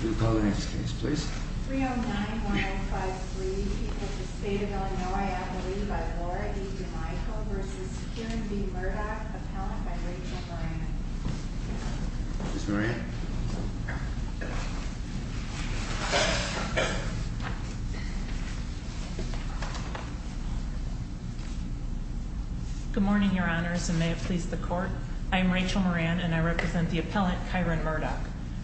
We will call the next case, please. 309-1053, people of the state of Illinois, appellee by Laura E. DeMichel v. Kieran V. Murdock, appellant by Rachel Moran. Ms. Moran? Good morning, your honors, and may it please the court. I am Rachel Moran, and I represent the appellant, Kieran Murdock.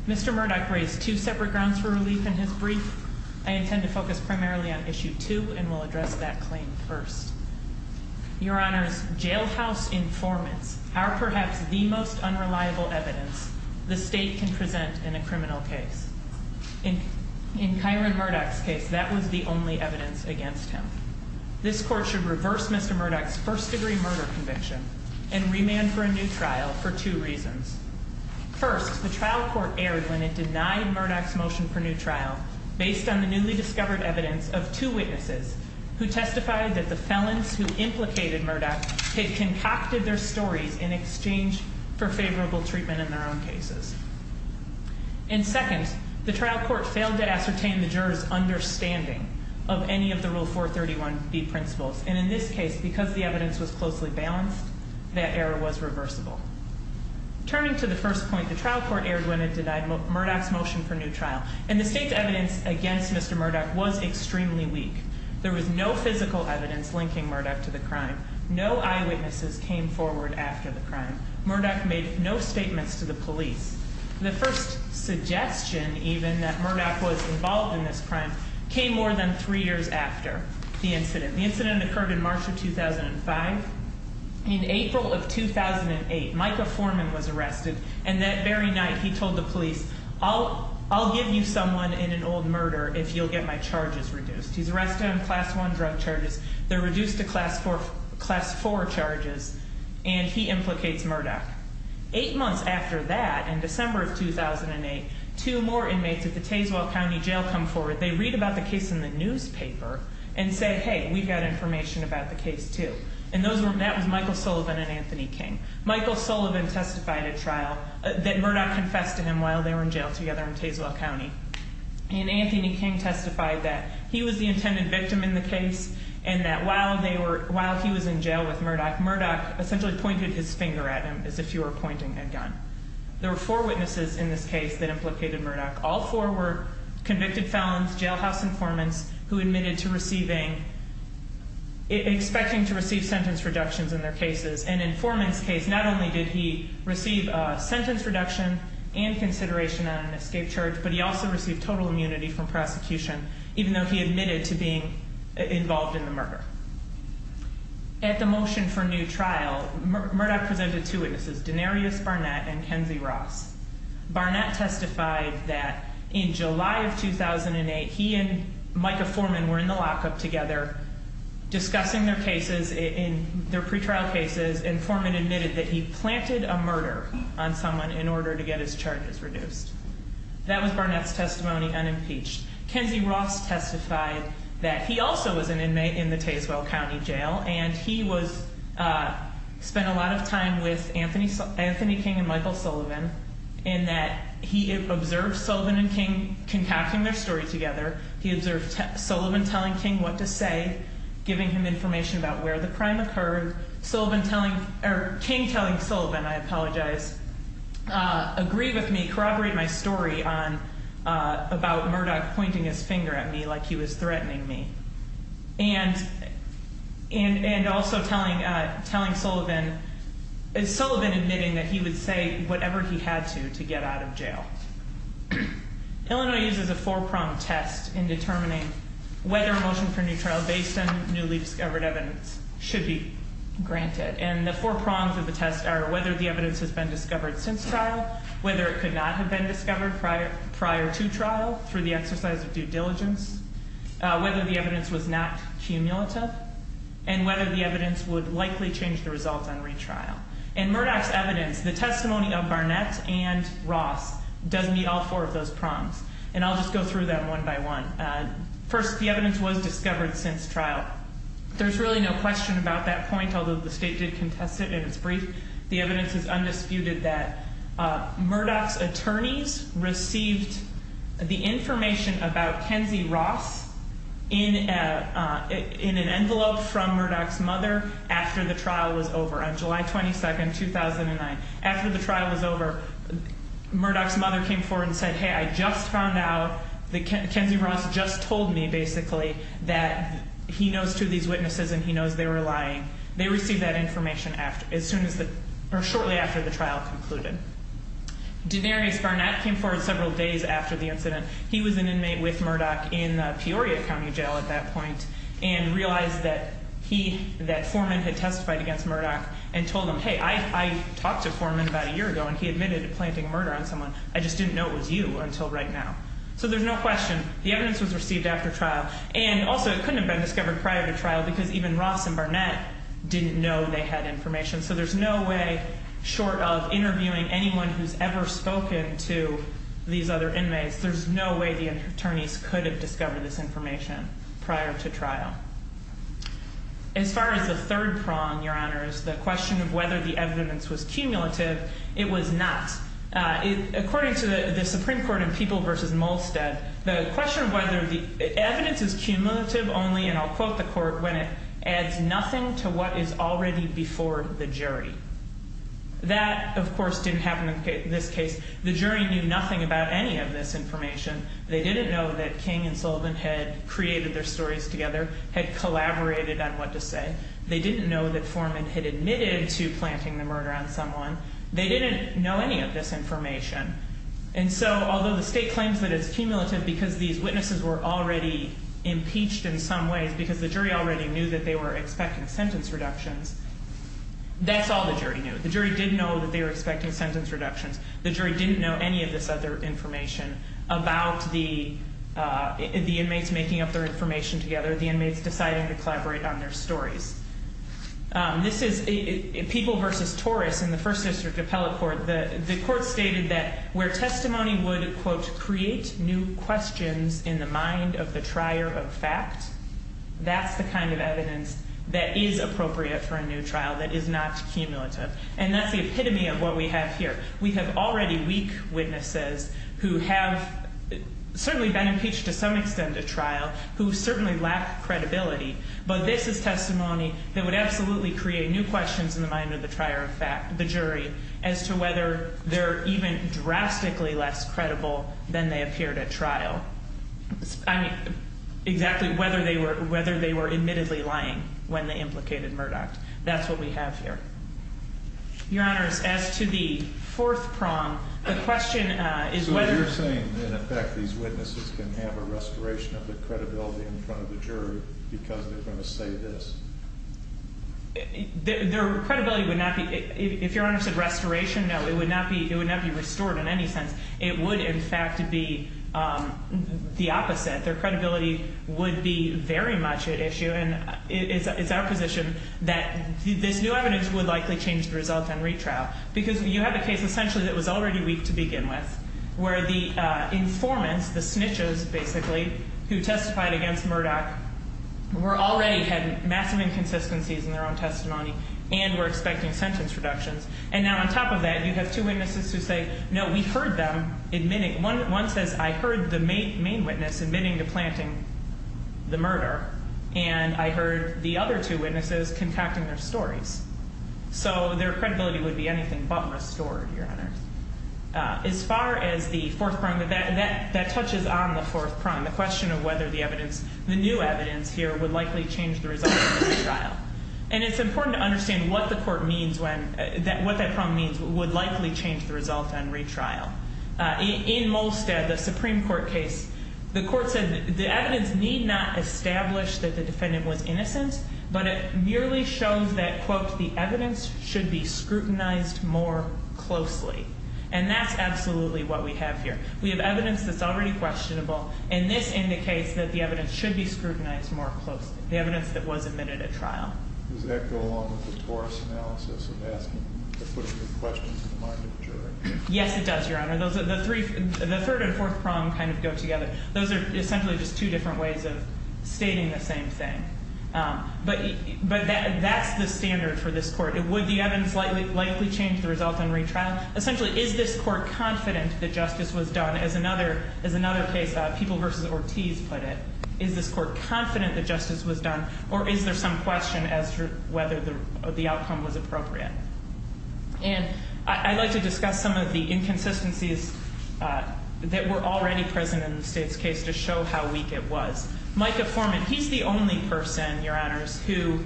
Mr. Murdock raised two separate grounds for relief in his brief. I intend to focus primarily on issue two, and will address that claim first. Your honors, jailhouse informants are perhaps the most unreliable evidence the state can present in a criminal case. In Kieran Murdock's case, that was the only evidence against him. This court should reverse Mr. Murdock's first-degree murder conviction and remand for a new trial for two reasons. First, the trial court erred when it denied Murdock's motion for new trial based on the newly discovered evidence of two witnesses who testified that the felons who implicated Murdock had concocted their stories in exchange for favorable treatment in their own cases. And second, the trial court failed to ascertain the jurors' understanding of any of the Rule 431B principles. And in this case, because the evidence was closely balanced, that error was reversible. Turning to the first point, the trial court erred when it denied Murdock's motion for new trial. And the state's evidence against Mr. Murdock was extremely weak. There was no physical evidence linking Murdock to the crime. No eyewitnesses came forward after the crime. Murdock made no statements to the police. The first suggestion, even, that Murdock was involved in this crime came more than three years after the incident. The incident occurred in March of 2005. In April of 2008, Micah Foreman was arrested. And that very night, he told the police, I'll give you someone in an old murder if you'll get my charges reduced. He's arrested on Class 1 drug charges. They're reduced to Class 4 charges. And he implicates Murdock. Eight months after that, in December of 2008, two more inmates at the Tazewell County Jail come forward. They read about the case in the newspaper and say, hey, we've got information about the case, too. And that was Michael Sullivan and Anthony King. Michael Sullivan testified at trial that Murdock confessed to him while they were in jail together in Tazewell County. And Anthony King testified that he was the intended victim in the case and that while he was in jail with Murdock, Murdock essentially pointed his finger at him as if he were pointing a gun. There were four witnesses in this case that implicated Murdock. All four were convicted felons, jailhouse informants who admitted to receiving, expecting to receive sentence reductions in their cases. And in Foreman's case, not only did he receive a sentence reduction and consideration on an escape charge, but he also received total immunity from prosecution even though he admitted to being involved in the murder. At the motion for new trial, Murdock presented two witnesses, Denarius Barnett and Kenzie Ross. Barnett testified that in July of 2008, he and Micah Foreman were in the lockup together discussing their cases in their pretrial cases and Foreman admitted that he planted a murder on someone in order to get his charges reduced. That was Barnett's testimony unimpeached. Kenzie Ross testified that he also was an inmate in the Tazewell County Jail and he spent a lot of time with Anthony King and Michael Sullivan in that he observed Sullivan and King concocting their story together. He observed Sullivan telling King what to say, giving him information about where the crime occurred. King telling Sullivan, I apologize, agree with me, corroborate my story about Murdock pointing his finger at me like he was threatening me. And also telling Sullivan, Sullivan admitting that he would say whatever he had to to get out of jail. Illinois uses a four-pronged test in determining whether a motion for new trial based on newly discovered evidence should be granted. And the four prongs of the test are whether the evidence has been discovered since trial, whether it could not have been discovered prior to trial through the exercise of due diligence, whether the evidence was not cumulative, and whether the evidence would likely change the results on retrial. In Murdock's evidence, the testimony of Barnett and Ross does meet all four of those prongs. And I'll just go through them one by one. First, the evidence was discovered since trial. There's really no question about that point, although the state did contest it in its brief. The evidence is undisputed that Murdock's attorneys received the information about Kenzie Ross in an envelope from Murdock's mother after the trial was over, on July 22, 2009. After the trial was over, Murdock's mother came forward and said, hey, I just found out that Kenzie Ross just told me, basically, that he knows two of these witnesses and he knows they were lying. They received that information shortly after the trial concluded. Denarius Barnett came forward several days after the incident. He was an inmate with Murdock in Peoria County Jail at that point and realized that Foreman had testified against Murdock and told him, hey, I talked to Foreman about a year ago and he admitted to planting a murder on someone. I just didn't know it was you until right now. So there's no question. The evidence was received after trial. And also, it couldn't have been discovered prior to trial because even Ross and Barnett didn't know they had information. So there's no way, short of interviewing anyone who's ever spoken to these other inmates, there's no way the attorneys could have discovered this information prior to trial. As far as the third prong, Your Honors, the question of whether the evidence was cumulative, it was not. According to the Supreme Court in People v. Molstead, the question of whether the evidence is cumulative only, and I'll quote the court, when it adds nothing to what is already before the jury. That, of course, didn't happen in this case. The jury knew nothing about any of this information. They didn't know that King and Sullivan had created their stories together, had collaborated on what to say. They didn't know that Foreman had admitted to planting the murder on someone. They didn't know any of this information. And so, although the state claims that it's cumulative because these witnesses were already impeached in some ways, because the jury already knew that they were expecting sentence reductions, that's all the jury knew. The jury didn't know that they were expecting sentence reductions. The jury didn't know any of this other information about the inmates making up their information together, the inmates deciding to collaborate on their stories. This is People v. Torres in the First District Appellate Court. The court stated that where testimony would, quote, create new questions in the mind of the trier of fact, that's the kind of evidence that is appropriate for a new trial that is not cumulative. And that's the epitome of what we have here. We have already weak witnesses who have certainly been impeached to some extent at trial, who certainly lack credibility. But this is testimony that would absolutely create new questions in the mind of the trier of fact, the jury, as to whether they're even drastically less credible than they appeared at trial. I mean, exactly whether they were admittedly lying when they implicated Murdoch. That's what we have here. Your Honors, as to the fourth prong, the question is whether- So you're saying, in effect, these witnesses can have a restoration of their credibility in front of the jury because they're going to say this? Their credibility would not be, if Your Honor said restoration, no. It would not be restored in any sense. It would, in fact, be the opposite. Their credibility would be very much at issue, and it's our position that this new evidence would likely change the result on retrial. Because you have a case, essentially, that was already weak to begin with, where the informants, the snitches, basically, who testified against Murdoch, already had massive inconsistencies in their own testimony and were expecting sentence reductions. And now, on top of that, you have two witnesses who say, no, we heard them admitting. One says, I heard the main witness admitting to planting the murder, and I heard the other two witnesses concocting their stories. So their credibility would be anything but restored, Your Honor. As far as the fourth prong, that touches on the fourth prong, the question of whether the new evidence here would likely change the result on retrial. And it's important to understand what that prong means, would likely change the result on retrial. In Molstad, the Supreme Court case, the court said the evidence need not establish that the defendant was innocent, but it merely shows that, quote, the evidence should be scrutinized more closely. And that's absolutely what we have here. We have evidence that's already questionable, and this indicates that the evidence should be scrutinized more closely, the evidence that was admitted at trial. Does that go along with the Taurus analysis of asking, of putting the question to the mind of the juror? Yes, it does, Your Honor. The third and fourth prong kind of go together. Those are essentially just two different ways of stating the same thing. But that's the standard for this court. Would the evidence likely change the result on retrial? Essentially, is this court confident that justice was done? As another case, People v. Ortiz put it, is this court confident that justice was done, or is there some question as to whether the outcome was appropriate? And I'd like to discuss some of the inconsistencies that were already present in the state's case to show how weak it was. Micah Foreman, he's the only person, Your Honors, who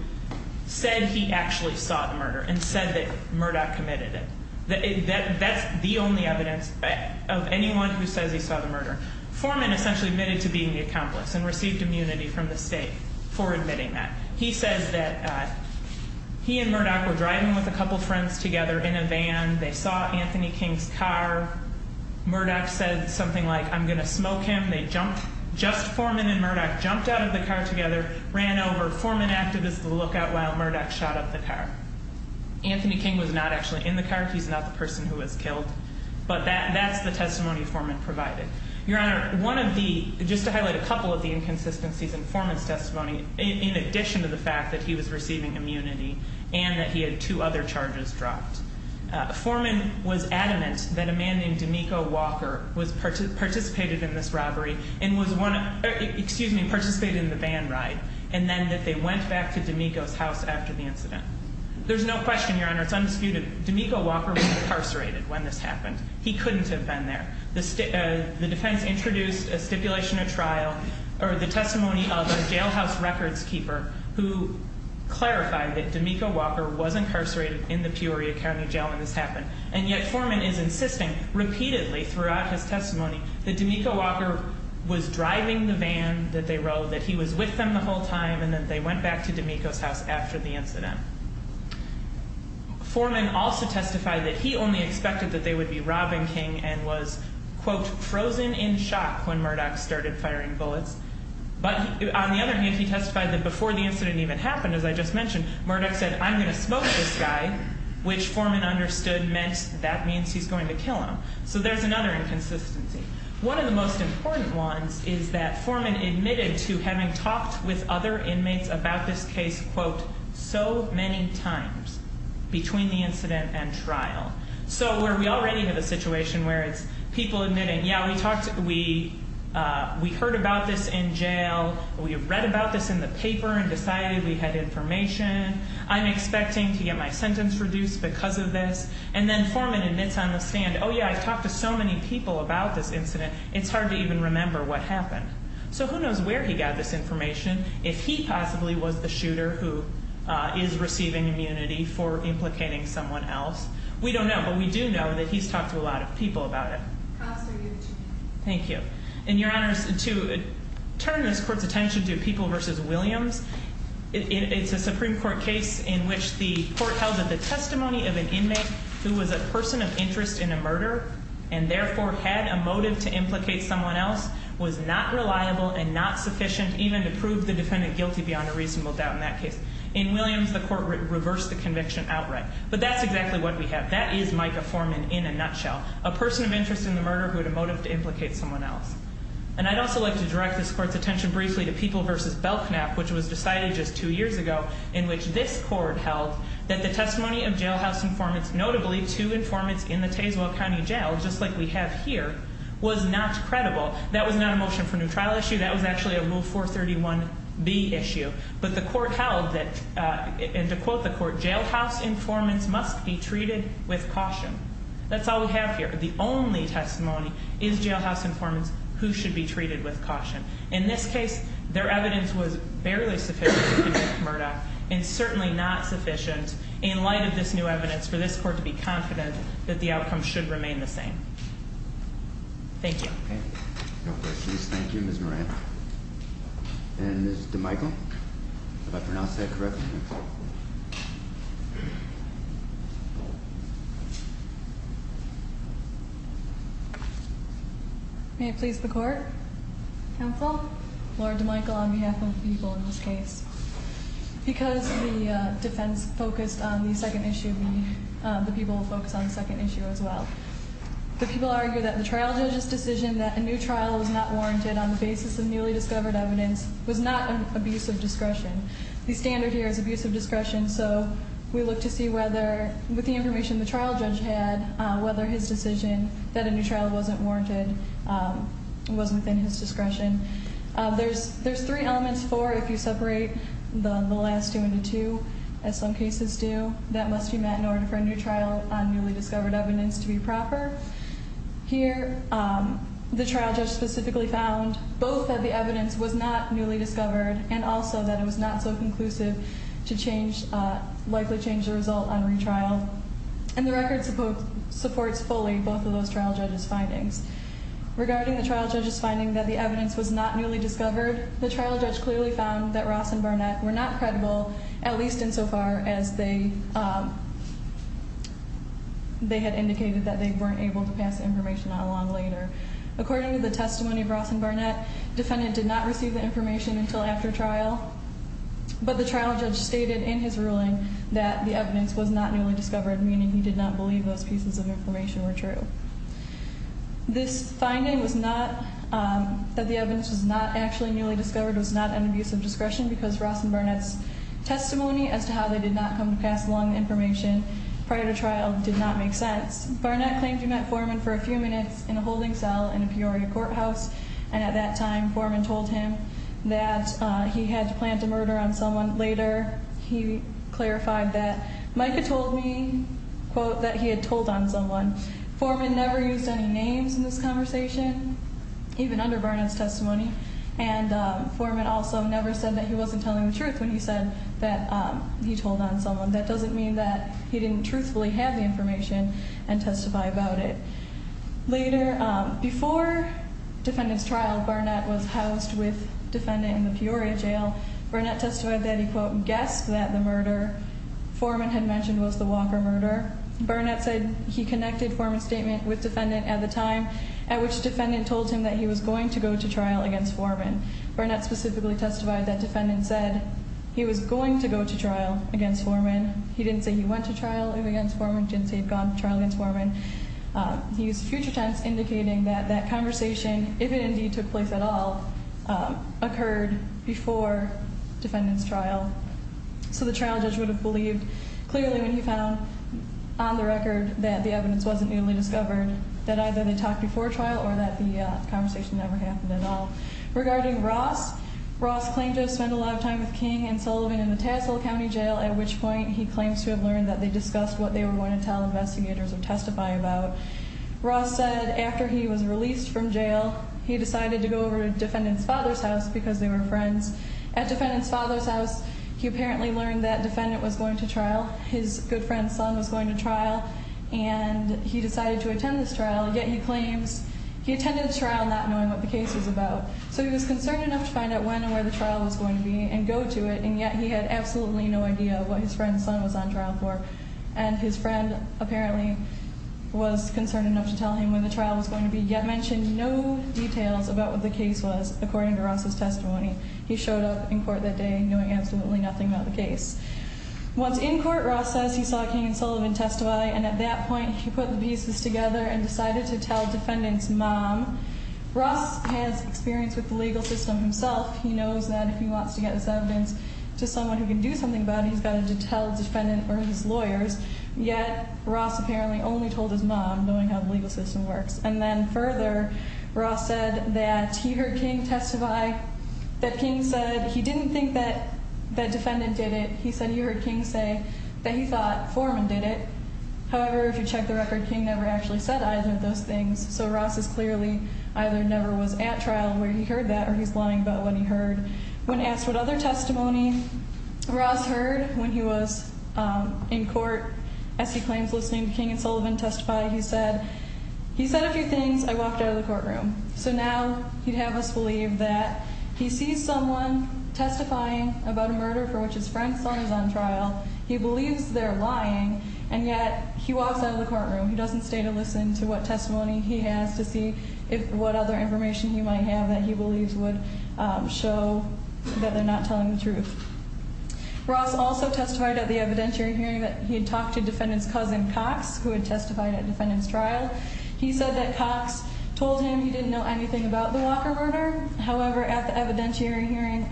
said he actually saw the murder and said that Murdoch committed it. That's the only evidence of anyone who says he saw the murder. Foreman essentially admitted to being the accomplice and received immunity from the state for admitting that. He says that he and Murdoch were driving with a couple friends together in a van. They saw Anthony King's car. Murdoch said something like, I'm going to smoke him. They jumped. Just Foreman and Murdoch jumped out of the car together, ran over. Foreman acted as the lookout while Murdoch shot up the car. Anthony King was not actually in the car. He's not the person who was killed. But that's the testimony Foreman provided. Your Honor, one of the, just to highlight a couple of the inconsistencies in Foreman's testimony, in addition to the fact that he was receiving immunity and that he had two other charges dropped, Foreman was adamant that a man named D'Amico Walker participated in this robbery and was one of, excuse me, participated in the van ride, and then that they went back to D'Amico's house after the incident. There's no question, Your Honor, it's undisputed, D'Amico Walker was incarcerated when this happened. He couldn't have been there. The defense introduced a stipulation of trial, or the testimony of a jailhouse records keeper who clarified that D'Amico Walker was incarcerated in the Peoria County jail when this happened. And yet Foreman is insisting repeatedly throughout his testimony that D'Amico Walker was driving the van that they rode, that he was with them the whole time, and that they went back to D'Amico's house after the incident. Foreman also testified that he only expected that they would be robbing King and was, quote, frozen in shock when Murdoch started firing bullets. But on the other hand, he testified that before the incident even happened, as I just mentioned, Murdoch said, I'm going to smoke this guy, which Foreman understood meant that means he's going to kill him. So there's another inconsistency. One of the most important ones is that Foreman admitted to having talked with other inmates about this case, quote, so many times between the incident and trial. So where we already have a situation where it's people admitting, yeah, we talked, we heard about this in jail. We have read about this in the paper and decided we had information. I'm expecting to get my sentence reduced because of this. And then Foreman admits on the stand, oh, yeah, I've talked to so many people about this incident. It's hard to even remember what happened. So who knows where he got this information? If he possibly was the shooter who is receiving immunity for implicating someone else. We don't know. But we do know that he's talked to a lot of people about it. Thank you. And, Your Honor, to turn this court's attention to People v. Williams, it's a Supreme Court case in which the court held that the testimony of an inmate who was a person of interest in a murder and therefore had a motive to implicate someone else was not reliable and not sufficient even to prove the defendant guilty beyond a reasonable doubt in that case. In Williams, the court reversed the conviction outright. But that's exactly what we have. That is Micah Foreman in a nutshell, a person of interest in the murder who had a motive to implicate someone else. And I'd also like to direct this court's attention briefly to People v. Belknap, which was decided just two years ago in which this court held that the testimony of jailhouse informants, notably two informants in the Tazewell County Jail, just like we have here, was not credible. That was not a motion for new trial issue. That was actually a Rule 431B issue. But the court held that, and to quote the court, jailhouse informants must be treated with caution. That's all we have here. The only testimony is jailhouse informants who should be treated with caution. In this case, their evidence was barely sufficient to convict Murdock and certainly not sufficient. In light of this new evidence, for this court to be confident that the outcome should remain the same. Thank you. No questions. Thank you, Ms. Moran. And Ms. DeMichel. Did I pronounce that correctly? May it please the court. Counsel. Lauren DeMichel on behalf of People in this case. Because the defense focused on the second issue, the people will focus on the second issue as well. The people argue that the trial judge's decision that a new trial was not warranted on the basis of newly discovered evidence was not an abuse of discretion. The standard here is abuse of discretion, so we look to see whether, with the information the trial judge had, whether his decision that a new trial wasn't warranted was within his discretion. There's three elements, four if you separate the last two into two, as some cases do, that must be met in order for a new trial on newly discovered evidence to be proper. Here, the trial judge specifically found both that the evidence was not newly discovered and also that it was not so conclusive to likely change the result on retrial. And the record supports fully both of those trial judge's findings. Regarding the trial judge's finding that the evidence was not newly discovered, the trial judge clearly found that Ross and Barnett were not credible, at least insofar as they had indicated that they weren't able to pass information on long later. According to the testimony of Ross and Barnett, defendant did not receive the information until after trial, but the trial judge stated in his ruling that the evidence was not newly discovered, meaning he did not believe those pieces of information were true. This finding was not, that the evidence was not actually newly discovered was not an abuse of discretion because Ross and Barnett's testimony as to how they did not come to pass along the information prior to trial did not make sense. Barnett claimed he met Foreman for a few minutes in a holding cell in a Peoria courthouse, and at that time Foreman told him that he had to plant a murder on someone later. He clarified that Micah told me, quote, that he had told on someone. Foreman never used any names in this conversation, even under Barnett's testimony, and Foreman also never said that he wasn't telling the truth when he said that he told on someone. That doesn't mean that he didn't truthfully have the information and testify about it. Later, before defendant's trial, Barnett was housed with defendant in the Peoria jail. Barnett testified that he, quote, guessed that the murder Foreman had mentioned was the Walker murder. However, Barnett said he connected Foreman's statement with defendant at the time at which defendant told him that he was going to go to trial against Foreman. Barnett specifically testified that defendant said he was going to go to trial against Foreman. He didn't say he went to trial against Foreman, didn't say he had gone to trial against Foreman. He used future tense indicating that that conversation, if it indeed took place at all, occurred before defendant's trial. So the trial judge would have believed clearly when he found on the record that the evidence wasn't newly discovered, that either they talked before trial or that the conversation never happened at all. Regarding Ross, Ross claimed to have spent a lot of time with King and Sullivan in the Tassel County Jail, at which point he claims to have learned that they discussed what they were going to tell investigators or testify about. Ross said after he was released from jail, he decided to go over to defendant's father's house because they were friends. At defendant's father's house, he apparently learned that defendant was going to trial, his good friend's son was going to trial, and he decided to attend this trial, yet he claims he attended the trial not knowing what the case was about. So he was concerned enough to find out when and where the trial was going to be and go to it, and yet he had absolutely no idea what his friend's son was on trial for. And his friend apparently was concerned enough to tell him when the trial was going to be, yet mentioned no details about what the case was, according to Ross's testimony. He showed up in court that day knowing absolutely nothing about the case. Once in court, Ross says he saw King and Sullivan testify, and at that point he put the pieces together and decided to tell defendant's mom. Ross has experience with the legal system himself. He knows that if he wants to get his evidence to someone who can do something about it, he's got to tell defendant or his lawyers, yet Ross apparently only told his mom, knowing how the legal system works. And then further, Ross said that he heard King testify, that King said he didn't think that defendant did it. He said he heard King say that he thought Foreman did it. However, if you check the record, King never actually said either of those things. So Ross is clearly either never was at trial where he heard that or he's lying about what he heard. When asked what other testimony Ross heard when he was in court, as he claims listening to King and Sullivan testify, he said, he said a few things. I walked out of the courtroom. So now he'd have us believe that he sees someone testifying about a murder for which his friend's son is on trial. He believes they're lying. And yet he walks out of the courtroom. He doesn't stay to listen to what testimony he has to see what other information he might have that he believes would show that they're not telling the truth. Ross also testified at the evidentiary hearing that he had talked to defendant's cousin Cox, who had testified at defendant's trial. He said that Cox told him he didn't know anything about the Walker murder. However, at the evidentiary hearing,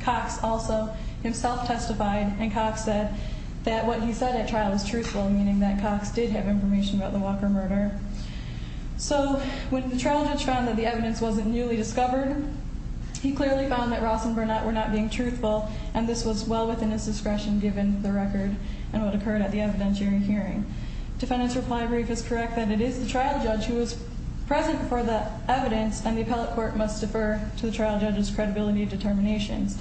Cox also himself testified, and Cox said that what he said at trial was truthful, meaning that Cox did have information about the Walker murder. So when the trial judge found that the evidence wasn't newly discovered, he clearly found that Ross and Burnett were not being truthful, and this was well within his discretion, given the record and what occurred at the evidentiary hearing. Defendant's reply brief is correct that it is the trial judge who is present before the evidence, and the appellate court must defer to the trial judge's credibility determinations.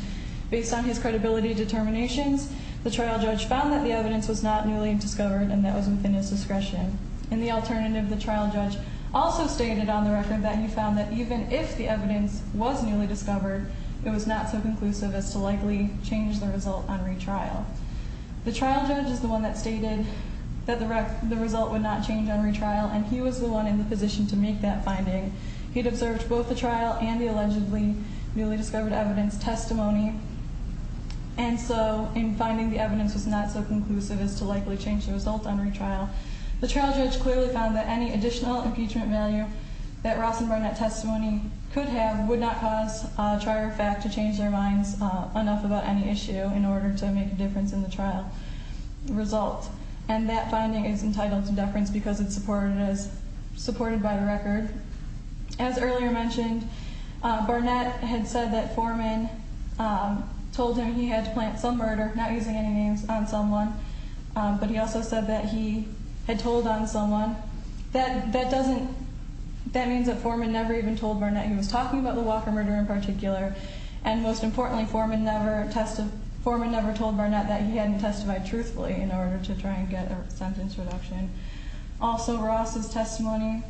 Based on his credibility determinations, the trial judge found that the evidence was not newly discovered, and that was within his discretion. In the alternative, the trial judge also stated on the record that he found that even if the evidence was newly discovered, it was not so conclusive as to likely change the result on retrial. The trial judge is the one that stated that the result would not change on retrial, and he was the one in the position to make that finding. He'd observed both the trial and the allegedly newly discovered evidence testimony, and so in finding the evidence was not so conclusive as to likely change the result on retrial, the trial judge clearly found that any additional impeachment value that Ross and Burnett testimony could have would not cause a trier of fact to change their minds enough about any issue in order to make a difference in the trial result, and that finding is entitled to deference because it's supported by the record. As earlier mentioned, Burnett had said that Foreman told him he had to plant some murder, not using any names, on someone, but he also said that he had told on someone. That means that Foreman never even told Burnett he was talking about the Walker murder in particular, and most importantly, Foreman never told Burnett that he hadn't testified truthfully in order to try and get a sentence reduction. Also, Ross' testimony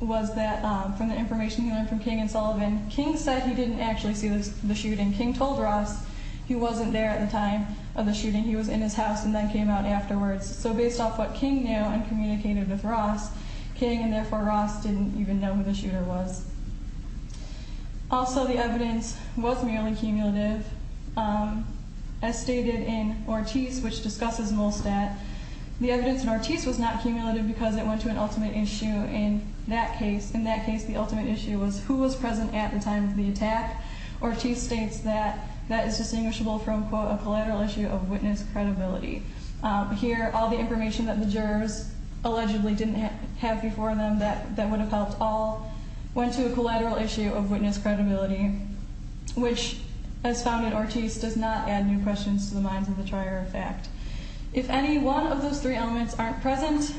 was that from the information he learned from King and Sullivan, King said he didn't actually see the shooting. King told Ross he wasn't there at the time of the shooting. He was in his house and then came out afterwards, so based off what King knew and communicated with Ross, King and therefore Ross didn't even know who the shooter was. Also, the evidence was merely cumulative. As stated in Ortiz, which discusses Molstadt, the evidence in Ortiz was not cumulative because it went to an ultimate issue. In that case, the ultimate issue was who was present at the time of the attack. Ortiz states that that is distinguishable from, quote, a collateral issue of witness credibility. Here, all the information that the jurors allegedly didn't have before them that would have helped all went to a collateral issue of witness credibility, which, as found in Ortiz, does not add new questions to the minds of the trier of fact. If any one of those three elements aren't present,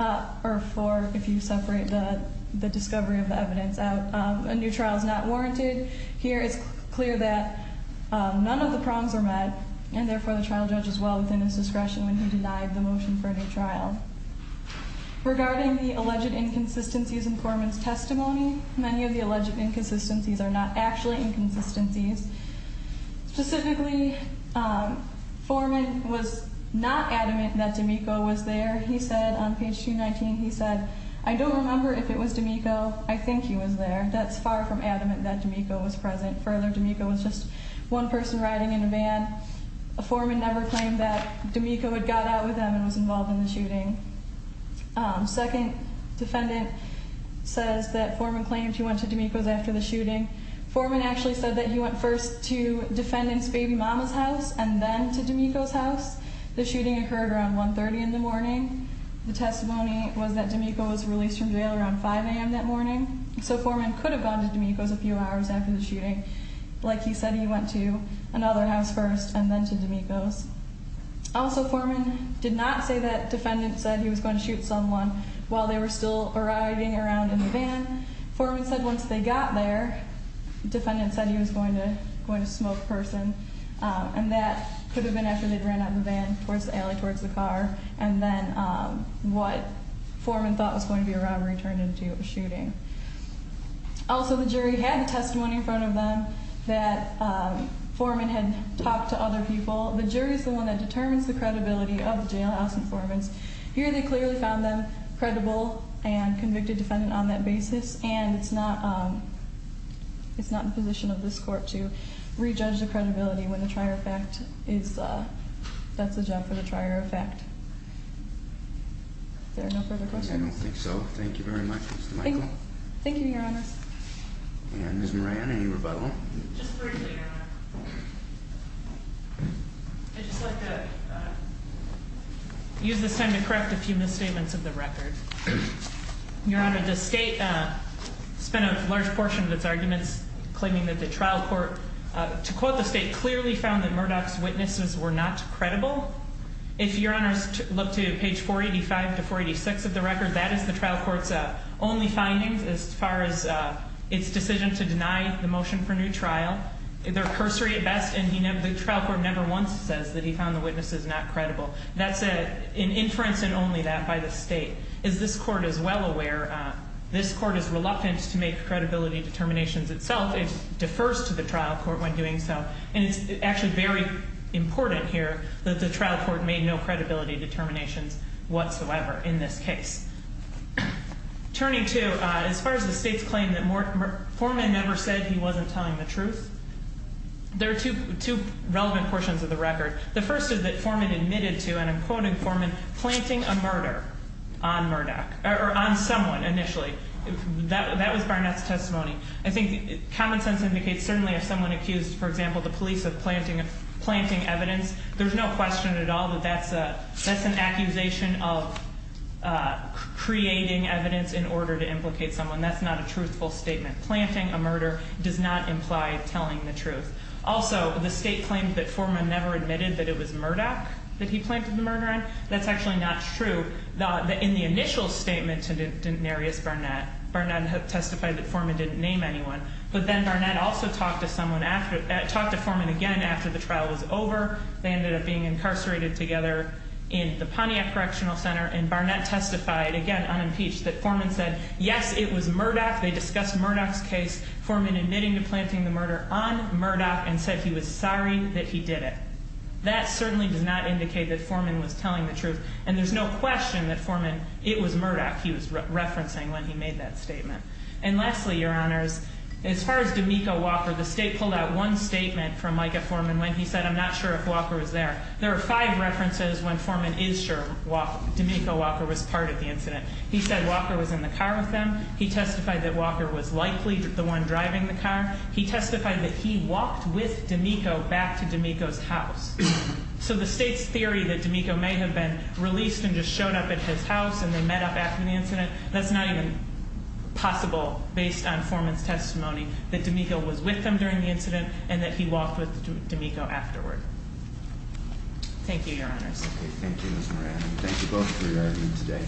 or four if you separate the discovery of the evidence out, a new trial is not warranted. Here it's clear that none of the prongs are met, and therefore the trial judge is well within his discretion when he denied the motion for a new trial. Regarding the alleged inconsistencies in Foreman's testimony, many of the alleged inconsistencies are not actually inconsistencies. Specifically, Foreman was not adamant that D'Amico was there. He said on page 219, he said, I don't remember if it was D'Amico. I think he was there. That's far from adamant that D'Amico was present. Further, D'Amico was just one person riding in a van. Foreman never claimed that D'Amico had got out with him and was involved in the shooting. Second, defendant says that Foreman claimed he went to D'Amico's after the shooting. Foreman actually said that he went first to defendant's baby mama's house and then to D'Amico's house. The shooting occurred around 1.30 in the morning. The testimony was that D'Amico was released from jail around 5 a.m. that morning. So Foreman could have gone to D'Amico's a few hours after the shooting. Like he said, he went to another house first and then to D'Amico's. Also, Foreman did not say that defendant said he was going to shoot someone while they were still riding around in the van. Foreman said once they got there, defendant said he was going to smoke a person, and that could have been after they'd ran out of the van towards the alley, towards the car, and then what Foreman thought was going to be a robbery turned into a shooting. Also, the jury had the testimony in front of them that Foreman had talked to other people. The jury is the one that determines the credibility of the jailhouse informants. Here they clearly found them credible and convicted defendant on that basis, and it's not in the position of this court to re-judge the credibility when the trier of fact is, that's the job for the trier of fact. Is there no further questions? I don't think so. Thank you very much, Mr. Michael. Thank you, Your Honor. And Ms. Moran, any rebuttal? Just briefly, Your Honor. I'd just like to use this time to correct a few misstatements of the record. Your Honor, the state spent a large portion of its arguments claiming that the trial court, to quote the state, clearly found that Murdoch's witnesses were not credible. If Your Honors look to page 485 to 486 of the record, that is the trial court's only findings as far as its decision to deny the motion for new trial. They're cursory at best, and the trial court never once says that he found the witnesses not credible. That's an inference and only that by the state. As this court is well aware, this court is reluctant to make credibility determinations itself. It defers to the trial court when doing so. And it's actually very important here that the trial court made no credibility determinations whatsoever in this case. Turning to, as far as the state's claim that Foreman never said he wasn't telling the truth, there are two relevant portions of the record. The first is that Foreman admitted to, and I'm quoting Foreman, planting a murder on Murdoch, or on someone initially. That was Barnett's testimony. I think common sense indicates certainly if someone accused, for example, the police of planting evidence, there's no question at all that that's an accusation of creating evidence in order to implicate someone. That's not a truthful statement. Planting a murder does not imply telling the truth. Also, the state claims that Foreman never admitted that it was Murdoch that he planted the murder on. That's actually not true. In the initial statement to Denarius Barnett, Barnett testified that Foreman didn't name anyone. But then Barnett also talked to Foreman again after the trial was over. They ended up being incarcerated together in the Pontiac Correctional Center. And Barnett testified, again, unimpeached, that Foreman said, yes, it was Murdoch. They discussed Murdoch's case, Foreman admitting to planting the murder on Murdoch, and said he was sorry that he did it. That certainly does not indicate that Foreman was telling the truth. And there's no question that Foreman, it was Murdoch he was referencing when he made that statement. And lastly, Your Honors, as far as D'Amico Walker, the state pulled out one statement from Micah Foreman when he said, I'm not sure if Walker was there. There are five references when Foreman is sure D'Amico Walker was part of the incident. He said Walker was in the car with them. He testified that Walker was likely the one driving the car. He testified that he walked with D'Amico back to D'Amico's house. So the state's theory that D'Amico may have been released and just showed up at his house and they met up after the incident, that's not even possible based on Foreman's testimony that D'Amico was with them during the incident and that he walked with D'Amico afterward. Thank you, Your Honors. Okay, thank you, Ms. Moran. Thank you both for your argument today.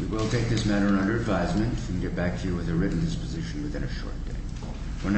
We will take this matter under advisement and get back to you with a written disposition within a short day.